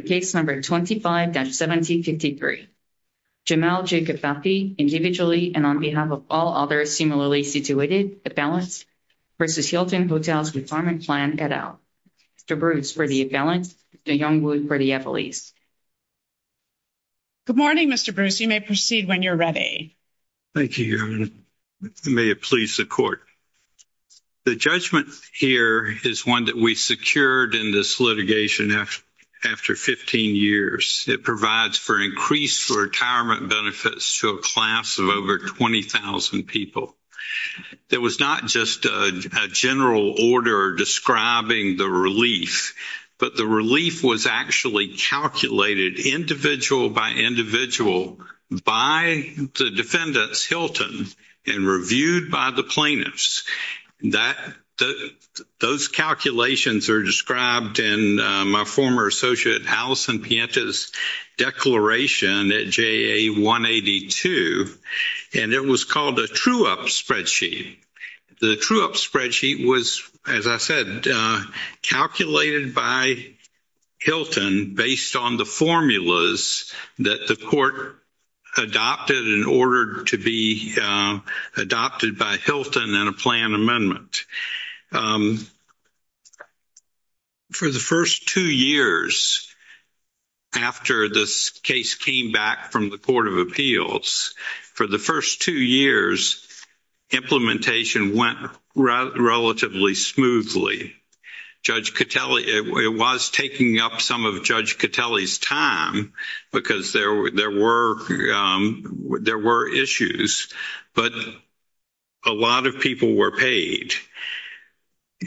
case number 25-1753. Jamal Kifafi, individually and on behalf of all others similarly situated, imbalanced, v. Hilton Hotels Retirement Plan, et al. Mr. Bruce for the imbalanced, Mr. Youngwood for the employees. Good morning, Mr. Bruce. You may proceed when you're ready. Thank you, Your Honor. May it please the Court. The judgment here is one that we secured in this litigation after 15 years. It provides for increased retirement benefits to a class of over 20,000 people. There was not just a general order describing the relief, but the relief was actually calculated individual by individual by the defendants, Hilton, and reviewed by the plaintiffs. Those calculations are described in my former associate Allison Pienta's declaration at JA 182, and it was called a true-up spreadsheet. The true-up spreadsheet was, as I said, calculated by Hilton based on the formulas that the court adopted in order to be adopted by Hilton in a plan amendment. For the first two years after this case came back from the Court of Appeals, for the first two years, implementation went relatively smoothly. Judge Catelli, it was taking up some of Judge Catelli's time because there were issues, but a lot of people were paid.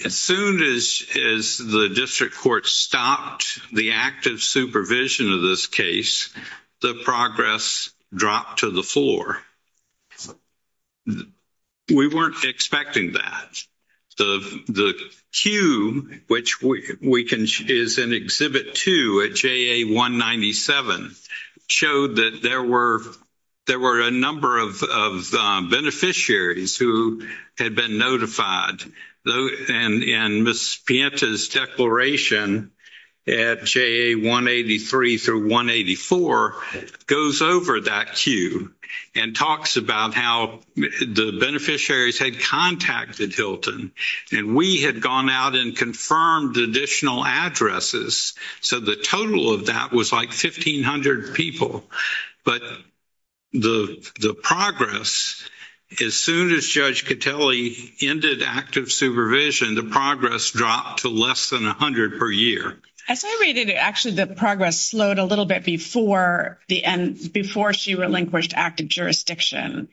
As soon as the district court stopped the active supervision of this case, the progress dropped to the floor. We weren't expecting that. The queue, which is in Exhibit 2 at JA 197, showed that there were a number of beneficiaries who had been notified, and Ms. Pienta's declaration at JA 183 through 184 goes over that queue and talks about how the beneficiaries had contacted Hilton, and we had gone out and confirmed additional addresses. So the total of that was like 1,500 people, but the progress, as soon as Judge Catelli ended active supervision, the progress dropped to less than 100 per year. Actually, the progress slowed a little bit before she relinquished active jurisdiction.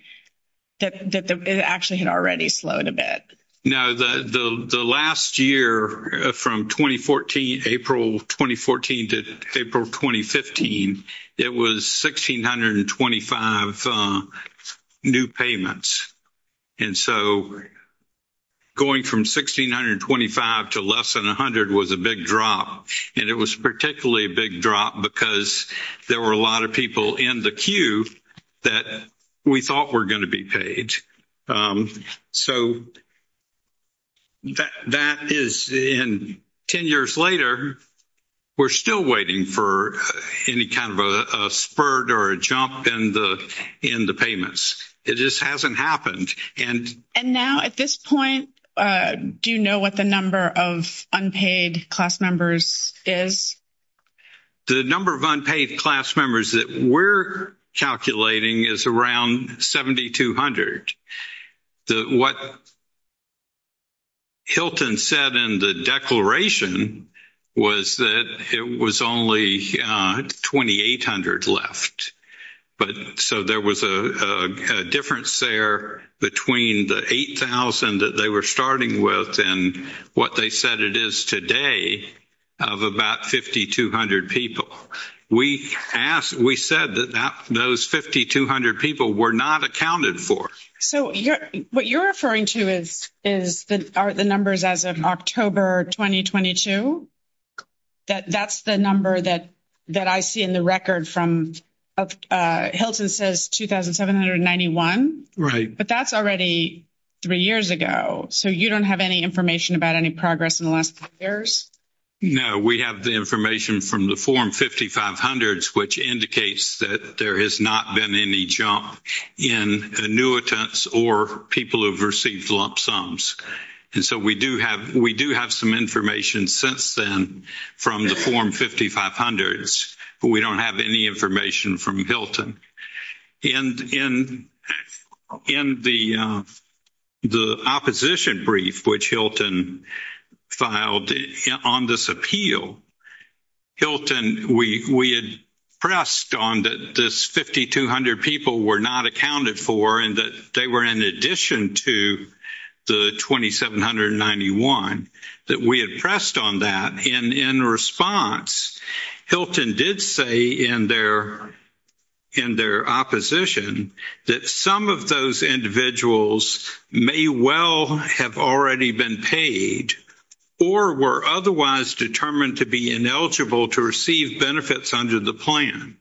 It actually had already slowed a bit. No, the last year from April 2014 to April 2015, it was 1,625 new payments. And so going from 1,625 to less than 100 was a big drop, and it was particularly a big drop because there were a lot of people in the queue that we thought were going to be paid. So that is, and 10 years later, we're still waiting for any kind of a spurt or a jump in the payments. It just hasn't happened. And now at this point, do you know what the number of unpaid class members is? The number of unpaid class members that we're calculating is around 7,200. What Hilton said in the declaration was that it was only 2,800 left. But so there was a difference there between the 8,000 that they were starting with and what they said it is today of about 5,200 people. We said that those 5,200 people were not accounted for. So what you're referring to is the numbers as of October 2022. That's the number that I see in the record from, Hilton says 2,791. Right. But that's already three years ago. So you don't have any information about any progress in the last three years? No, we have the information from the form 5,500, which indicates that there has not been any jump in annuitants or people who've received lump sums. And so we do have some information since then from the form 5,500, but we don't have any information from Hilton. And in the opposition brief, which Hilton filed on this appeal, Hilton, we had pressed on that this 5,200 people were not accounted for and that they were in addition to the 2,791 that we had pressed on that. And in response, Hilton did say in their opposition that some of those individuals may well have already been paid or were otherwise determined to be ineligible to receive benefits under the plan.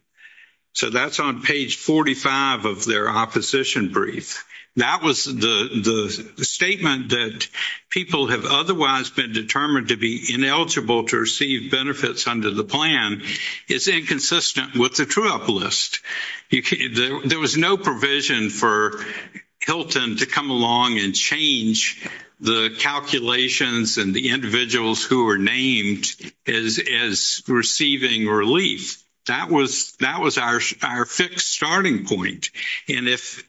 So that's on page 45 of their opposition brief. That was the statement that people have otherwise been determined to be ineligible to receive benefits under the plan is inconsistent with the true-up list. There was no provision for Hilton to come along and change the calculations and the individuals who were named as receiving relief. That was our fixed starting point. And if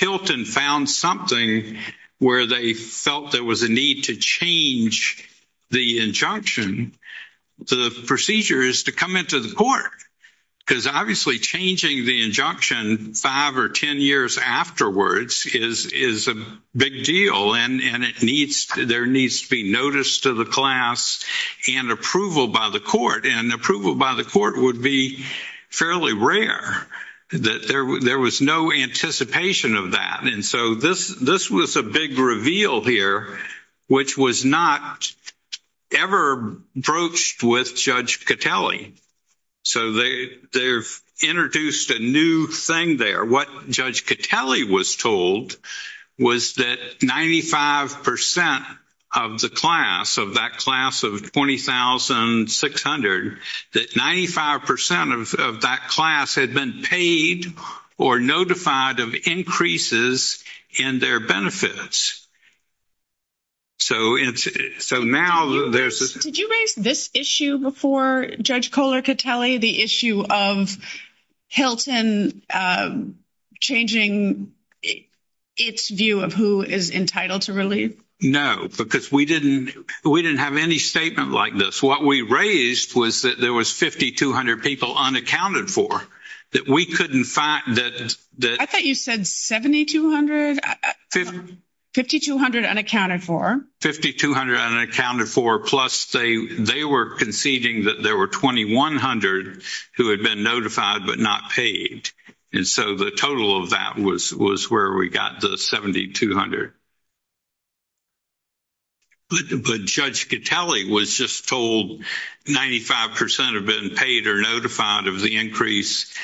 Hilton found something where they felt there was a need to change the injunction, the procedure is to come into the court. Because obviously changing the injunction five or ten years afterwards is a big deal. And there needs to be notice to the class and approval by the court. And approval by the court would be fairly rare. There was no anticipation of that. And so this was a big reveal here, which was not ever broached with Judge Kotele. What Judge Kotele was told was that 95% of the class, of that class of 20,600, that 95% of that class had been paid or notified of increases in their benefits. Did you raise this issue before, Judge Kohler-Kotele, the issue of Hilton changing its view of who is entitled to relief? No, because we didn't have any statement like this. What we raised was that there was 5,200 people unaccounted for, that we couldn't find that... 5,200 unaccounted for. 5,200 unaccounted for, plus they were conceding that there were 2,100 who had been notified but not paid. And so the total of that was where we got the 7,200. But Judge Kotele was just told 95% have been paid or notified of the increase,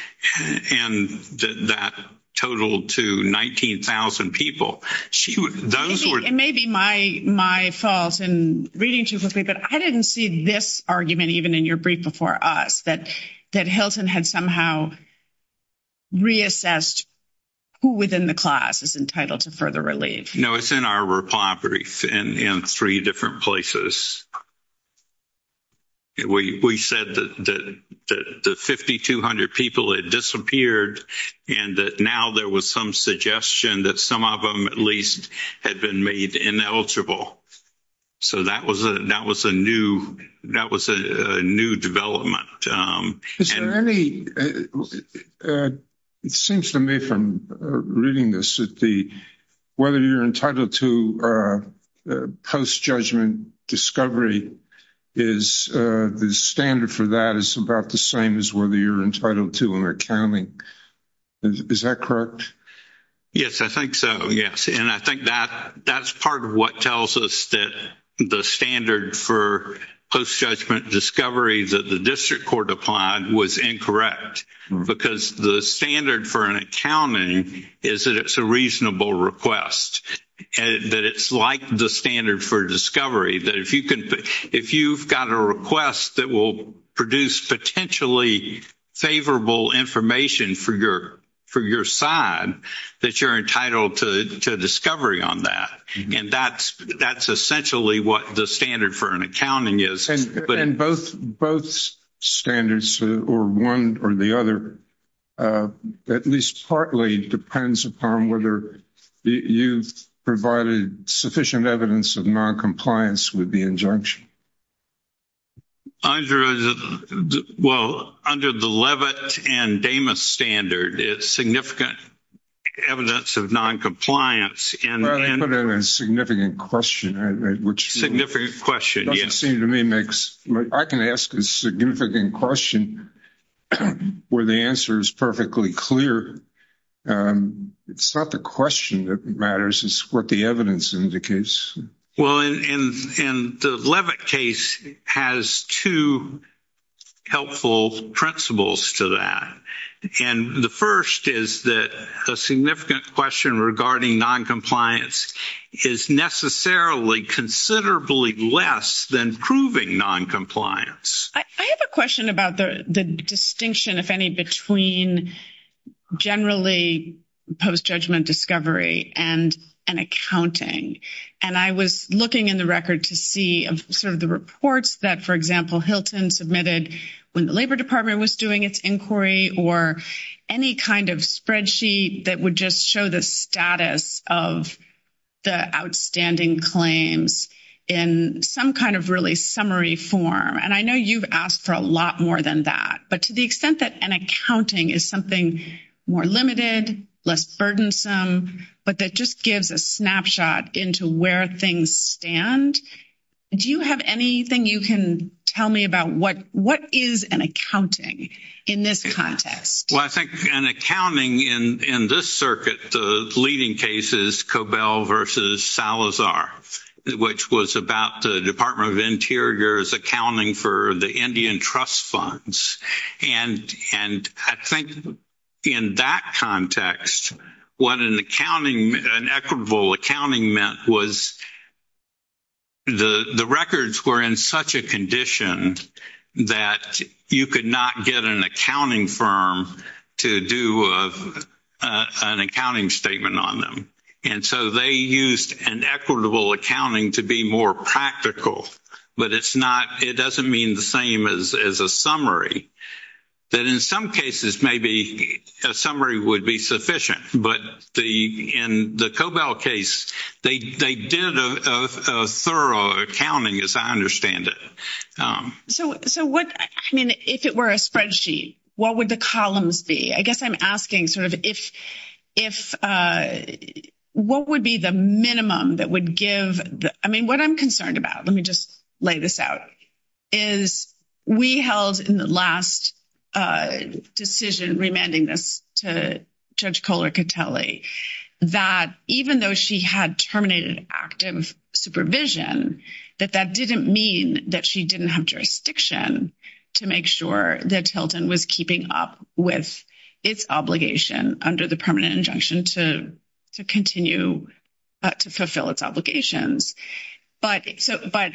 and that totaled to 19,000 people. Those were... It may be my fault in reading too quickly, but I didn't see this argument even in your brief before us, that Hilton had somehow reassessed who within the class is entitled to further relief. No, it's in our reply brief in three different places. We said that the 5,200 people had disappeared and that now there was some suggestion that some of them at least had been made ineligible. So that was a new development. Is there any... It seems to me from reading this that whether you're entitled to post-judgment discovery, the standard for that is about the same as whether you're entitled to an accounting. Is that correct? Yes, I think so, yes. And I think that's part of what tells us that the standard for post-judgment discovery that the district court applied was incorrect, because the standard for an accounting is that it's a reasonable request, that it's like the standard for discovery, that if you've got a request that will produce potentially favorable information for your side, that you're entitled to discovery on that. And that's essentially what the standard for an accounting is. And both standards, or one or the other, at least partly depends upon whether you've provided sufficient evidence of non-compliance with the injunction. Well, under the Levitt and Damas standard, it's significant evidence of non-compliance and... Well, they put in a significant question, which... Significant question, yes. Doesn't seem to me makes... I can ask a significant question where the answer is perfectly clear. It's not the question that matters, it's what the evidence indicates. Well, and the Levitt case has two helpful principles to that. And the first is that a significant question regarding non-compliance is necessarily considerably less than proving non-compliance. I have a question about the distinction, if any, between generally post-judgment discovery and an accounting. And I was looking in the record to see sort of the reports that, for example, Hilton submitted when the Labor Department was doing its inquiry, or any kind of spreadsheet that would just show the status of the outstanding claims in some kind of really summary form. And I know you've asked for a lot more than that, but to the extent that an accounting is something more limited, less burdensome, but that just gives a snapshot into where things stand, do you have anything you can tell me about what is an accounting in this context? Well, I think an accounting in this circuit, the leading case is Cobell versus Salazar, which was about the Department of Interior's accounting for the Indian trust funds. And I think in that context, what an accounting, an equitable accounting meant was the records were in such a condition that you could not get an accounting firm to do an accounting statement on them. And so they used an equitable accounting to be more practical, but it's not, it doesn't mean the same as a summary. That in some cases, maybe a summary would be sufficient, but in the Cobell case, they did a thorough accounting, as I understand it. So what, I mean, if it were a spreadsheet, what would the columns be? I guess I'm asking sort of what would be the minimum that would give, I mean, what I'm concerned about, let me just lay this out, is we held in the last decision remanding this to Judge Kohler-Catelli, that even though she had terminated active supervision, that that didn't mean that she didn't have jurisdiction to make sure that Hilton was keeping up with its obligation under the permanent injunction to continue to fulfill its obligations. But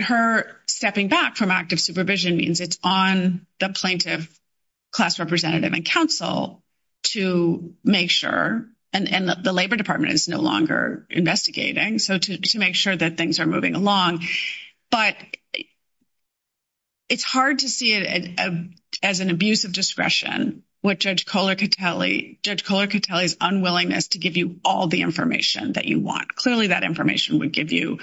her stepping back from active supervision means it's on the plaintiff, class representative, and counsel to make sure, and the Labor Department is no longer investigating, so to make sure that things are moving along. But it's hard to see it as an abuse of discretion, what Judge Kohler-Catelli, Judge Kohler-Catelli's unwillingness to give you all the information that you want. Clearly, that information would give you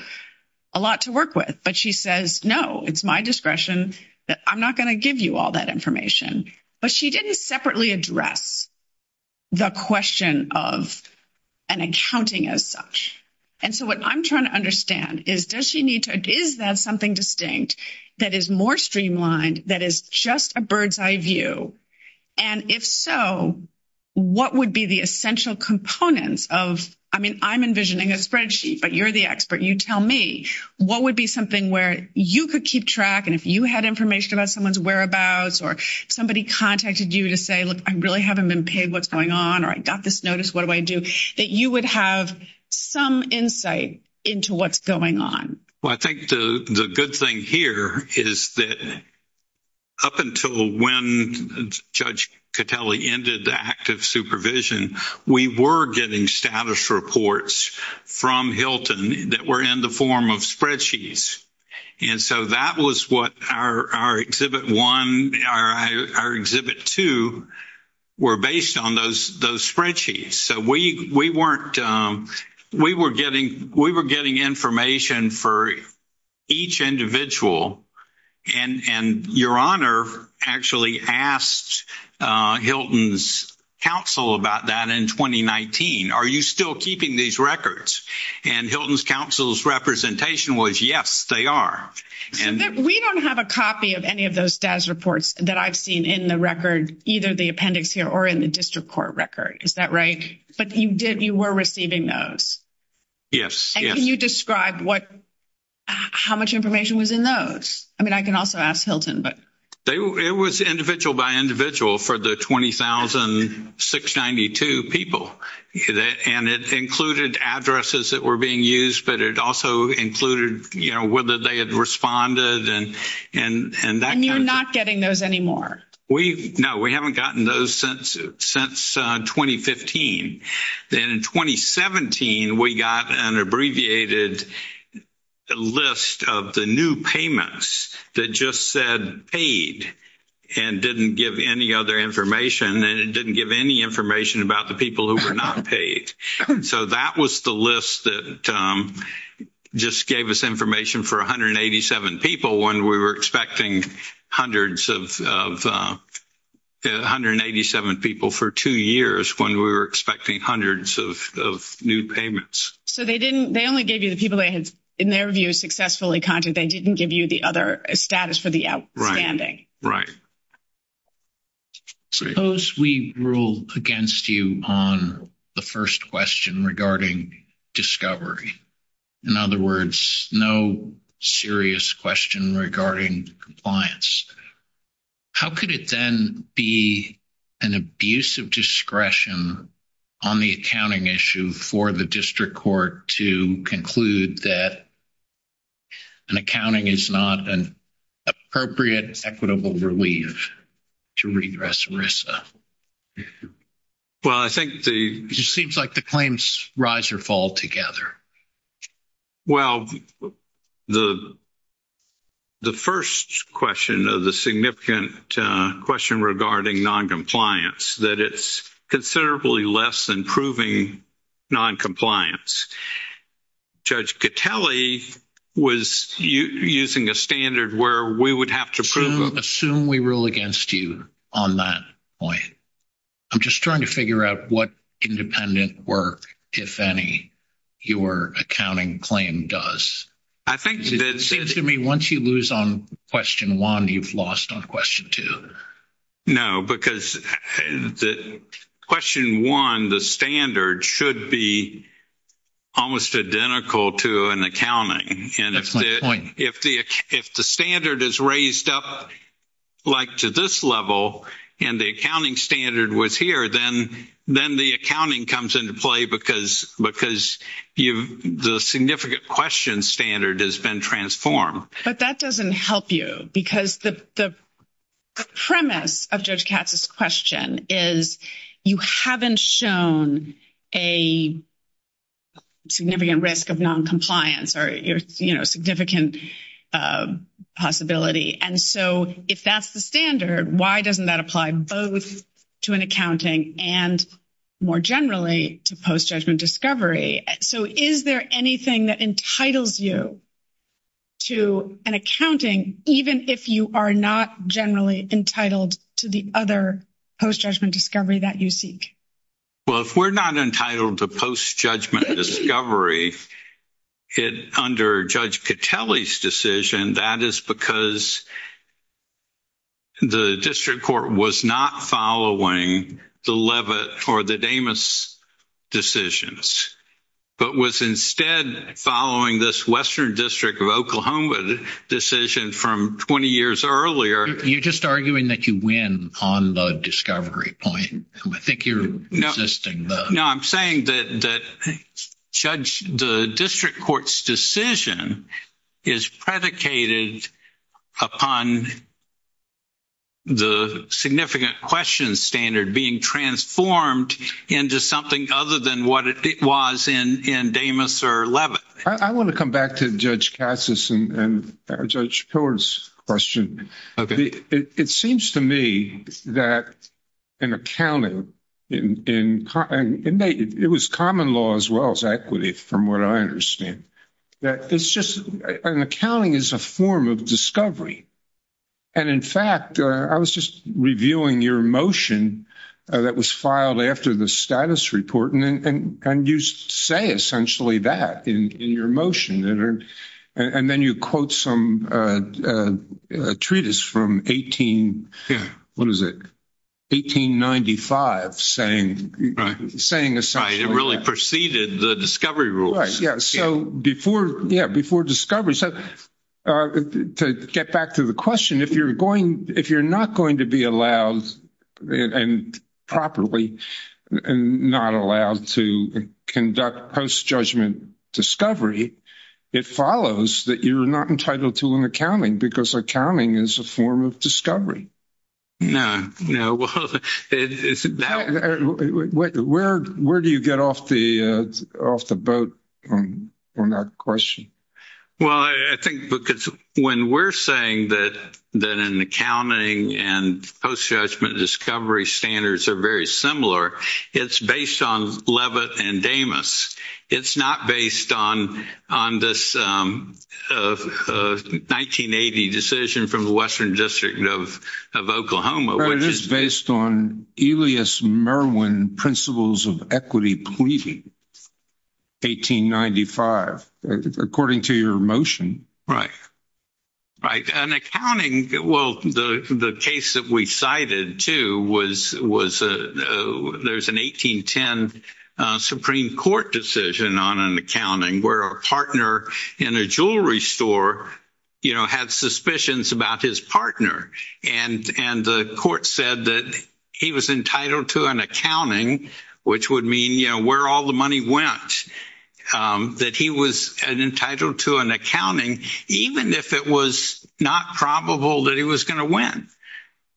a lot to work with. But she says, no, it's my discretion that I'm not going to give you all that information. But she didn't separately address the question of an accounting as such. And so what I'm trying to understand is, does she need to, is that something distinct that is more streamlined, that is just a bird's eye view? And if so, what would be the essential components of, I mean, I'm envisioning a spreadsheet, but you're the expert, you tell me, what would be something where you could keep track, and if you had information about someone's whereabouts, or somebody contacted you to say, look, I really haven't been paid what's going on, or I got this notice, what do I do, that you would have some insight into what's going on? Well, I think the good thing here is that up until when Judge Catelli ended the active supervision, we were getting status reports from Hilton that were in the form of spreadsheets. And so that was what our Exhibit 1, our Exhibit 2, were based on those spreadsheets. So we weren't, we were getting, we were getting information for each individual. And Your Honor actually asked Hilton's counsel about that in 2019. Are you still keeping these records? And Hilton's counsel's representation was, yes, they are. We don't have a copy of any of those status reports that I've seen in the record, either the appendix here or in the district court record, is that right? But you did, you were receiving those? Yes. And can you describe what, how much information was in those? I mean, I can also ask Hilton, but... They were, it was individual by individual for the 20,692 people. And it included addresses that were being used, but it also included, you know, whether they had responded and, and, and you're not getting those anymore. We've, no, we haven't gotten those since, since 2015. Then in 2017, we got an abbreviated list of the new payments that just said paid and didn't give any other information and it didn't give any information about the people who were not paid. So that was the list that just gave us information for 187 people when we were expecting hundreds of, 187 people for two years when we were expecting hundreds of, of new payments. So they didn't, they only gave you the people that had, in their view, successfully contacted, they didn't give you the other status for the outstanding. Right. Suppose we rule against you on the first question regarding discovery. In other words, no serious question regarding compliance. How could it then be an abuse of discretion on the accounting issue for the district court to conclude that an accounting is not an appropriate equitable relief to regress RISA? Well, I think the... Seems like the claims rise or fall together. Well, the, the first question of the significant question regarding non-compliance, that it's considerably less than proving non-compliance. Judge Catelli was using a standard where we would have to prove... Assume we rule against you on that point. I'm just trying to figure out what independent work, if any, your accounting claim does. I think that... Seems to me once you lose on question one, you've lost on question two. No, because question one, the standard should be almost identical to an accounting. That's my point. If the, if the standard is raised up, like to this level, and the accounting standard was here, then, then the accounting comes into play because, because you've, the significant question standard has been transformed. But that doesn't help you because the, the premise of Judge Katz's question is, you haven't shown a significant risk of non-compliance or, you know, significant possibility. And so if that's the standard, why doesn't that apply both to an accounting and more generally to post-judgment discovery? So is there anything that entitles you to an accounting, even if you are not generally entitled to the other post-judgment discovery that you seek? Well, if we're not entitled to post-judgment discovery, it, under Judge Catelli's decision, that is because the district court was not following the Levitt or the Damas decisions, but was instead following this Western District of Oklahoma decision from 20 years earlier. You're just arguing that you win on the discovery point. I think you're resisting the... No, I'm saying that, that Judge, the district court's decision is predicated upon the significant question standard being transformed into something other than what it was in, in Damas or Levitt. I want to come back to Judge Katz's and Judge Pillard's question. It seems to me that an accounting, and it was common law as well as equity, from what I understand, that it's just, an accounting is a form of discovery. And in fact, I was just reviewing your motion that was filed after the status report, and you say essentially that in your motion. And then you quote some a treatise from 18, what is it? 1895 saying, saying essentially... Right. It really preceded the discovery rules. Right. Yeah. So before, yeah, before discovery, so to get back to the question, if you're going, if you're not going to be allowed and properly, and not allowed to conduct post-judgment discovery, it follows that you're not entitled to an accounting because accounting is a form of discovery. No, no. Well, where do you get off the, off the boat on that question? Well, I think because when we're saying that, that an accounting and post-judgment discovery standards are very similar, it's based on Levitt and Damas. It's not based on this 1980 decision from the Western District of Oklahoma, which is... It is based on Elias Merwin principles of equity pleading, 1895, according to your motion. Right. Right. An accounting, well, the case that we cited too was, was there's an 1810 Supreme Court decision on an accounting where a partner in a jewelry store, you know, had suspicions about his partner. And, and the court said that he was entitled to an accounting, which would mean, you know, where all the money went, that he was entitled to an accounting, even if it was not probable that he was going to win.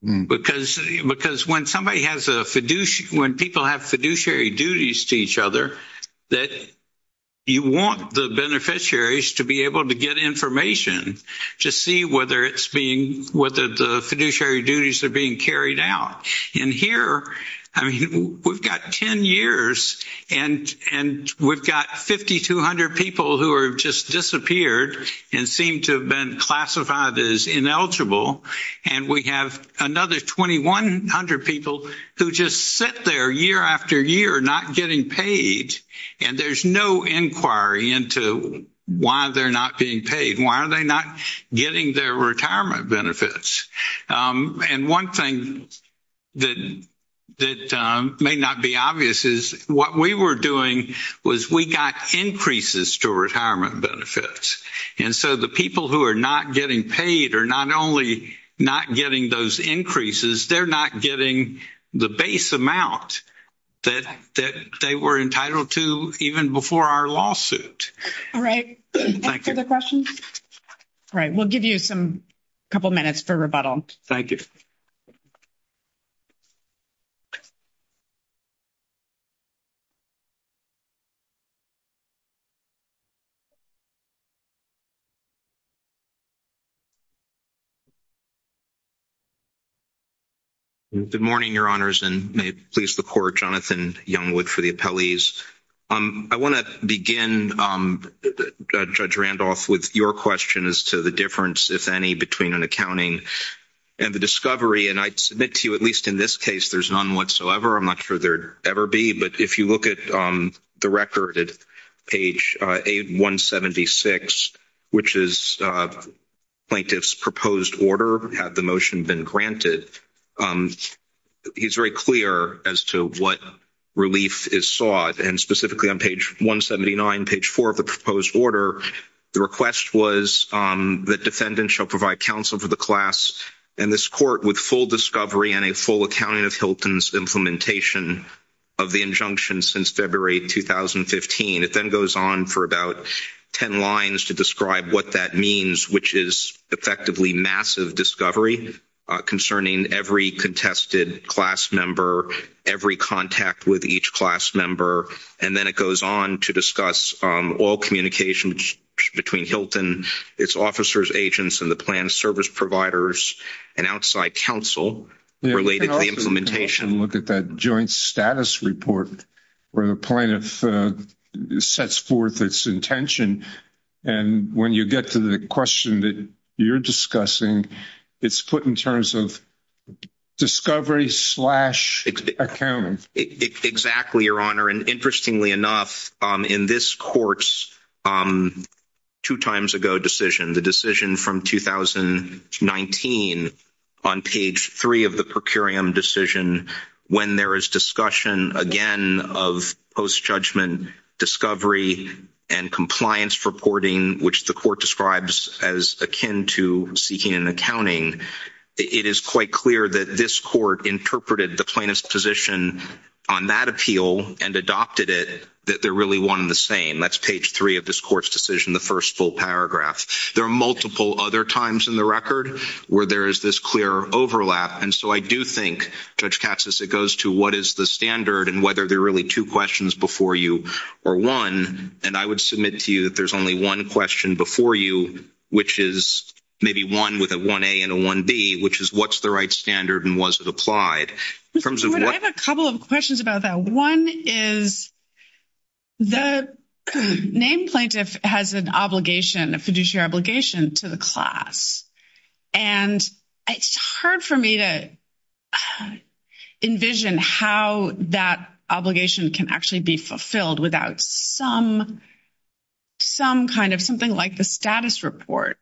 Because, because when somebody has a fiduciary, when people have fiduciary duties to each other, that you want the beneficiaries to be able to get information to see whether it's being, whether the fiduciary duties are being carried out. And here, I mean, we've got 10 years and, and we've got 5,200 people who are just disappeared and seem to have been classified as ineligible. And we have another 2,100 people who just sit there year after year, not getting paid. And there's no inquiry into why they're not being paid. Why are they not getting their retirement benefits? And one thing that, that may not be obvious is what we were doing was we got increases to retirement benefits. And so the people who are not getting paid are not only not getting those increases, they're not getting the base amount that, that they were entitled to even before our lawsuit. All right. Thank you. All right. We'll give you some, a couple minutes for rebuttal. Thank you. Good morning, Your Honors, and may it please the Court, Jonathan Youngwood for the appellees. I want to begin, Judge Randolph, with your question as to the difference, if any, between an accounting and the discovery. And I'd submit to you, at least in this case, there's none whatsoever. I'm not sure there'd ever be. But if you look at the record at page 176, which is plaintiff's proposed order, had the motion been granted, he's very clear as to what relief is sought. And specifically on page 179, page 4 of the proposed order, the request was that defendants shall provide counsel to the class and this Court with full discovery and a full accounting of Hilton's implementation of the injunction since February 2015. It then goes on for about 10 lines to describe what that means, which is effectively massive discovery concerning every contested class member, every contact with each class member. And then it goes on to discuss all communications between Hilton, its officers, agents, and the planned service providers and outside counsel related to the implementation. You can also look at that joint status report where the plaintiff sets forth its intention. And when you get to the question that you're discussing, it's put in terms of discovery slash accounting. Exactly, Your Honor. And interestingly enough, in this Court's two-times-ago decision, the decision from 2019 on page 3 of the per curiam decision, when there is discussion again of post-judgment discovery and compliance reporting, which the describes as akin to seeking an accounting, it is quite clear that this Court interpreted the plaintiff's position on that appeal and adopted it that they're really one and the same. That's page 3 of this Court's decision, the first full paragraph. There are multiple other times in the record where there is this clear overlap. And so I do think, Judge Katsas, it goes to what is the standard and whether there are really two questions before you or one. And I would submit to you that only one question before you, which is maybe one with a 1A and a 1B, which is what's the right standard and was it applied? I have a couple of questions about that. One is the named plaintiff has an obligation, a fiduciary obligation to the class. And it's hard for me to envision how that obligation can actually be fulfilled without some kind of something like the status report.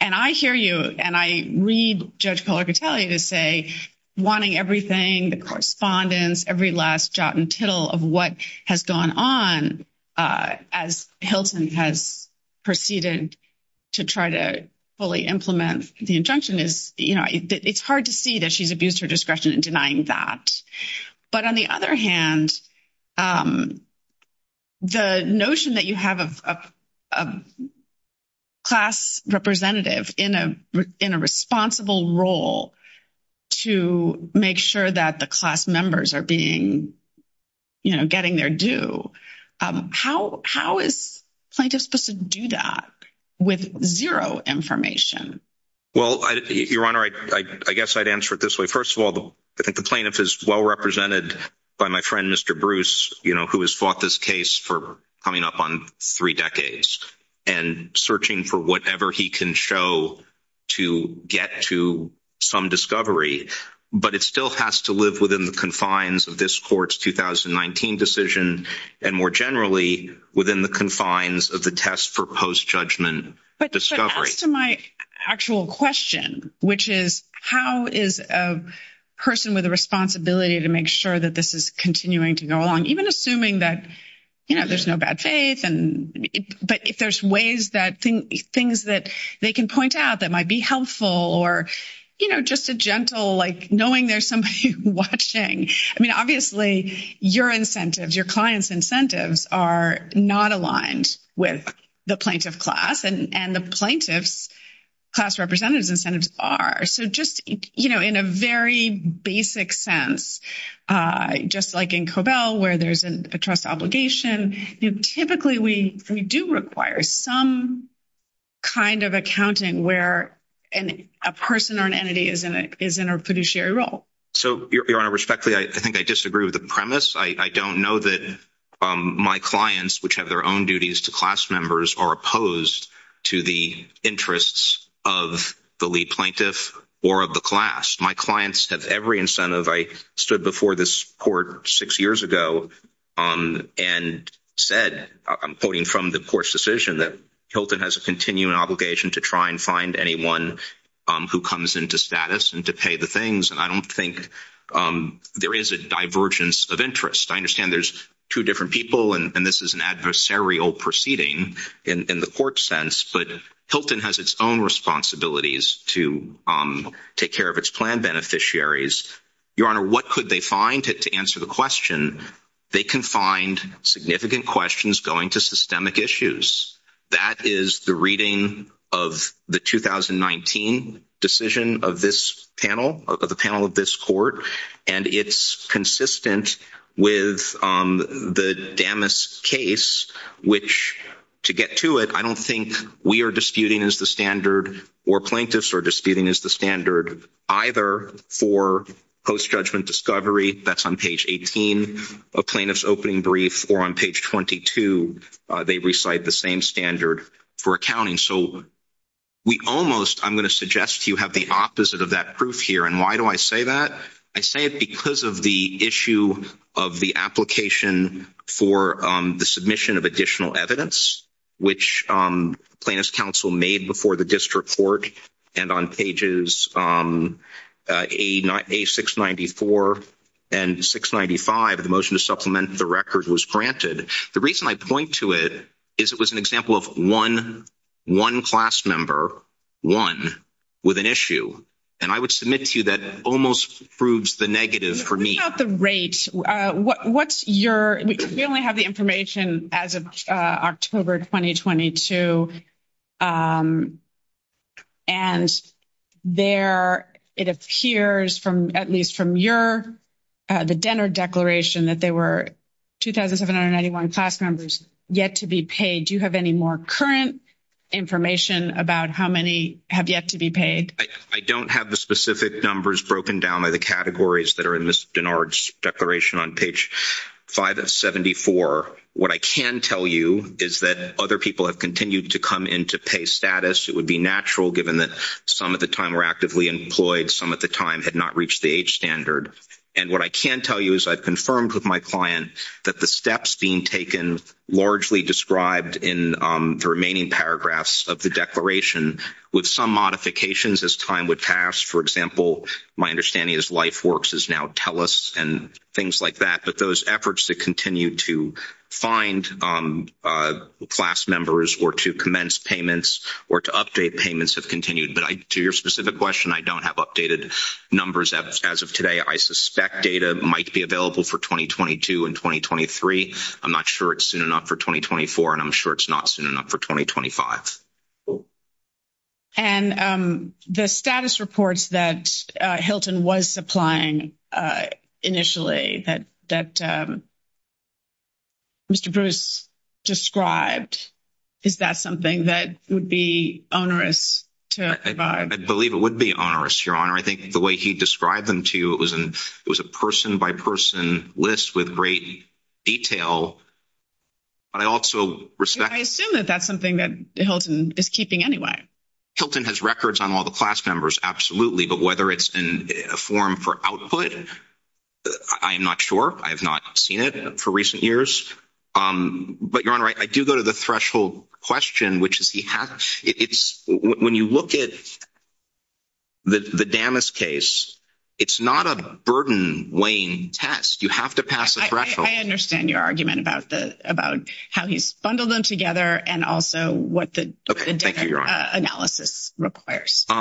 And I hear you and I read Judge Colartelli to say wanting everything, the correspondence, every last jot and tittle of what has gone on as Hilton has proceeded to try to implement the injunction, it's hard to see that she's abused her discretion in denying that. But on the other hand, the notion that you have a class representative in a responsible role to make sure that the class members are getting their due, how is plaintiff supposed to do that with zero information? Well, Your Honor, I guess I'd answer it this way. First of all, I think the plaintiff is well represented by my friend, Mr. Bruce, who has fought this case for coming up on three decades and searching for whatever he can show to get to some discovery. But it still has to live within the confines of this court's 2019 decision and more generally within the confines of the test for post-judgment discovery. But as to my actual question, which is how is a person with a responsibility to make sure that this is continuing to go along, even assuming that there's no bad faith, but if there's ways that things that they can point out that might be helpful or just a gentle like knowing there's watching. I mean, obviously, your incentives, your client's incentives are not aligned with the plaintiff class and the plaintiff's class representative's incentives are. So just in a very basic sense, just like in COBEL where there's a trust obligation, typically we do require some kind of accounting where a person or an entity is in a fiduciary role. So respectfully, I think I disagree with the premise. I don't know that my clients, which have their own duties to class members, are opposed to the interests of the lead plaintiff or of the class. My clients have every incentive. I stood before this court six years ago and said, I'm quoting from the court's decision that Hilton has a continuing obligation to try and find anyone who comes into status and to pay the things. And I don't think there is a divergence of interest. I understand there's two different people and this is an adversarial proceeding in the court sense, but Hilton has its own responsibilities to take care of its plan beneficiaries. Your Honor, what could they find to answer the question? They can find significant questions going to systemic issues. That is the reading of the 2019 decision of this panel, of the panel of this court. And it's consistent with the Damas case, which to get to it, I don't think we are disputing as the standard or plaintiffs are disputing as standard either for post-judgment discovery, that's on page 18 of plaintiff's opening brief, or on page 22, they recite the same standard for accounting. So we almost, I'm going to suggest you have the opposite of that proof here. And why do I say that? I say it because of the issue of the application for the submission of additional evidence, which plaintiff's counsel made before the district court. And on pages A694 and 695, the motion to supplement the record was granted. The reason I point to it is it was an example of one, one class member, one, with an issue. And I would submit to you that almost proves the negative for me. The rate, what's your, we only have the information as of October 2022. And there, it appears from, at least from your, the Denner declaration that there were 2,791 class members yet to be paid. Do you have any more current information about how many have yet to be paid? I don't have the specific numbers broken down by the categories that are in this declaration on page 5 of 74. What I can tell you is that other people have continued to come into pay status. It would be natural given that some of the time were actively employed. Some of the time had not reached the age standard. And what I can tell you is I've confirmed with my client that the steps being taken largely described in the remaining paragraphs of the declaration with some modifications as time would pass, for example, my understanding is Lifeworks is now and things like that. But those efforts to continue to find class members or to commence payments or to update payments have continued. But to your specific question, I don't have updated numbers as of today. I suspect data might be available for 2022 and 2023. I'm not sure it's soon enough for 2024 and I'm sure it's not soon enough for 2025. And the status reports that Hilton was applying initially that Mr. Bruce described, is that something that would be onerous to provide? I believe it would be onerous, Your Honor. I think the way he described them to you, it was a person-by-person list with great detail. But I also respect... I assume that that's something that Hilton is keeping anyway. Hilton has records on all the class members, absolutely. But whether it's in a form for output, I am not sure. I have not seen it for recent years. But Your Honor, I do go to the threshold question, which is, when you look at the Damas case, it's not a burden-laying test. You have to pass a threshold. I understand your argument about how he's bundled them together and also what the analysis requires. Your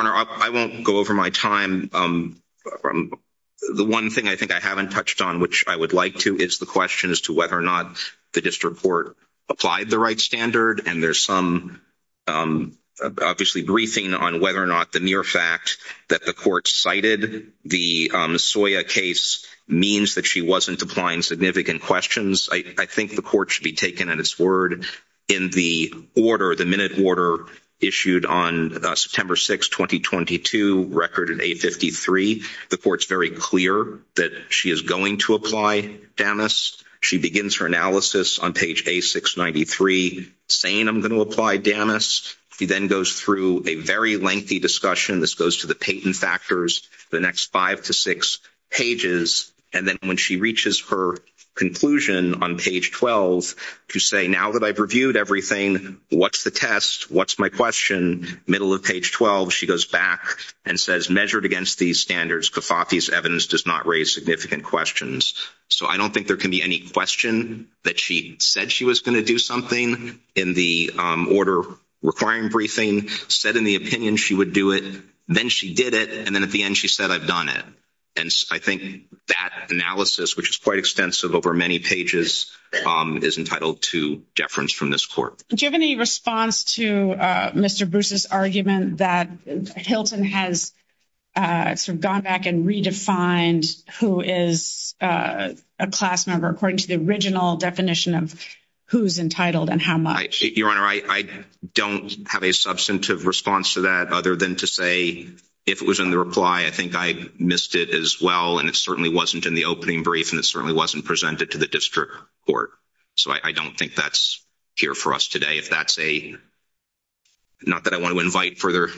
Honor, I won't go over my time. The one thing I think I haven't touched on, which I would like to, is the question as to whether or not the district court applied the right standard. And there's some, obviously, briefing on whether or not the mere fact that the court cited the Soya case means that she wasn't applying significant questions. I think the court should be taken at its word. In the order, the minute order issued on September 6, 2022, record at 853, the court's very clear that she is going to apply Damas. She begins her analysis on page A693 saying, I'm going to apply Damas. She then goes through a very lengthy discussion. This goes to the patent factors, the next five to six pages. And then when she reaches her conclusion on page 12 to say, now that I've reviewed everything, what's the test? What's my question? Middle of page 12, she goes back and says, measured against these standards, Cofafi's evidence does not raise significant questions. So I don't think there can be any question that she said she was going to do something in the order requiring briefing, said in the opinion she would do it. Then she did it. And then at the end, she said, I've done it. And I think that analysis, which is quite extensive over many pages, is entitled to deference from this court. Do you have any response to Mr. Bruce's argument that Hilton has sort of gone back and redefined who is a class member according to the original definition of who's entitled and how much? Your Honor, I don't have a substantive response to that other than to say, if it was in the reply, I think I missed it as well. And it certainly wasn't in the opening brief, and it certainly wasn't presented to the district court. So I don't think that's here for us today. If that's a, not that I want to invite further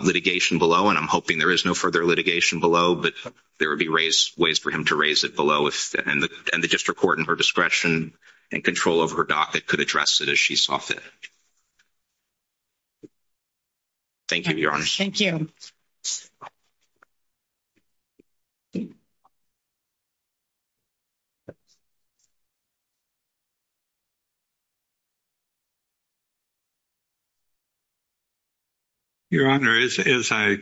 litigation below, and I'm hoping there is no further litigation below, but there would be ways for him to raise it below and the district court and her discretion and control over her docket could address it as she saw fit. Thank you, Your Honor. Thank you. Your Honor, as I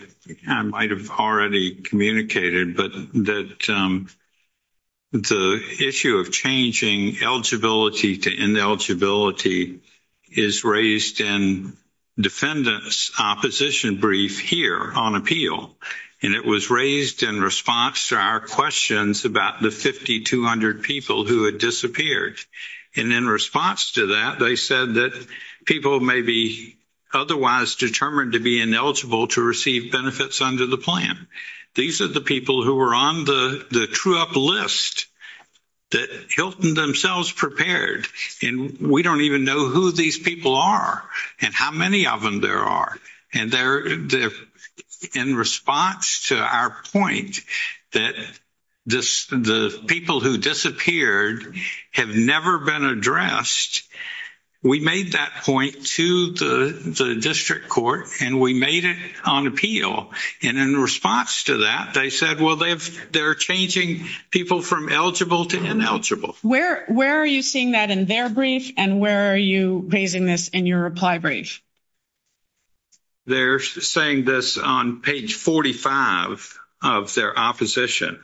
might have already communicated, but that the issue of changing eligibility to ineligibility is raised in defendant's opposition brief here on appeal. And it was raised in response to our questions about the 5,200 people who had disappeared. And in response to that, they said that people may be otherwise determined to be ineligible to receive benefits under the plan. These are the people who were on the true up list that Hilton themselves prepared and we don't even know who these people are and how many of them there are. And they're in response to our point that the people who disappeared have never been addressed. We made that point to the district court and we made it on appeal. And in response to that, they said, well, they're changing people from eligible to ineligible. Where are you seeing that in their brief and where are you raising this in your reply brief? They're saying this on page 45 of their opposition.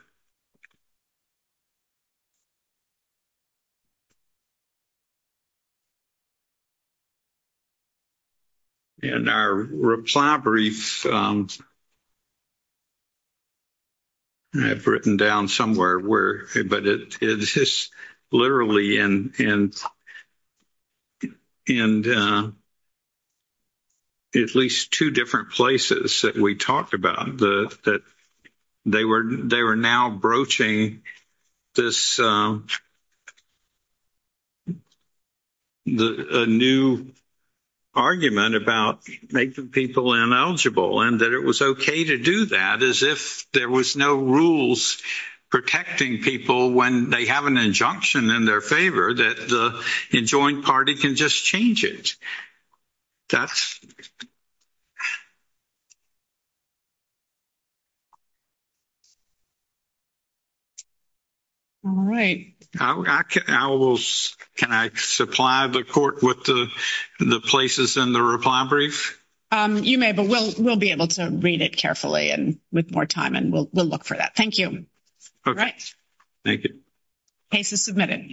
In our reply brief, I've written down somewhere where, but it's literally in at least two different places that we talked about that they were now broaching this new argument about making people ineligible. And that it was okay to do that as if there was no rules protecting people when they have an injunction in their favor that the adjoined party can just change it. That's... All right. Can I supply the court with the places in the reply brief? You may, but we'll be able to read it carefully and with more time and we'll look for that. Thank you. Okay. Thank you. Case is submitted.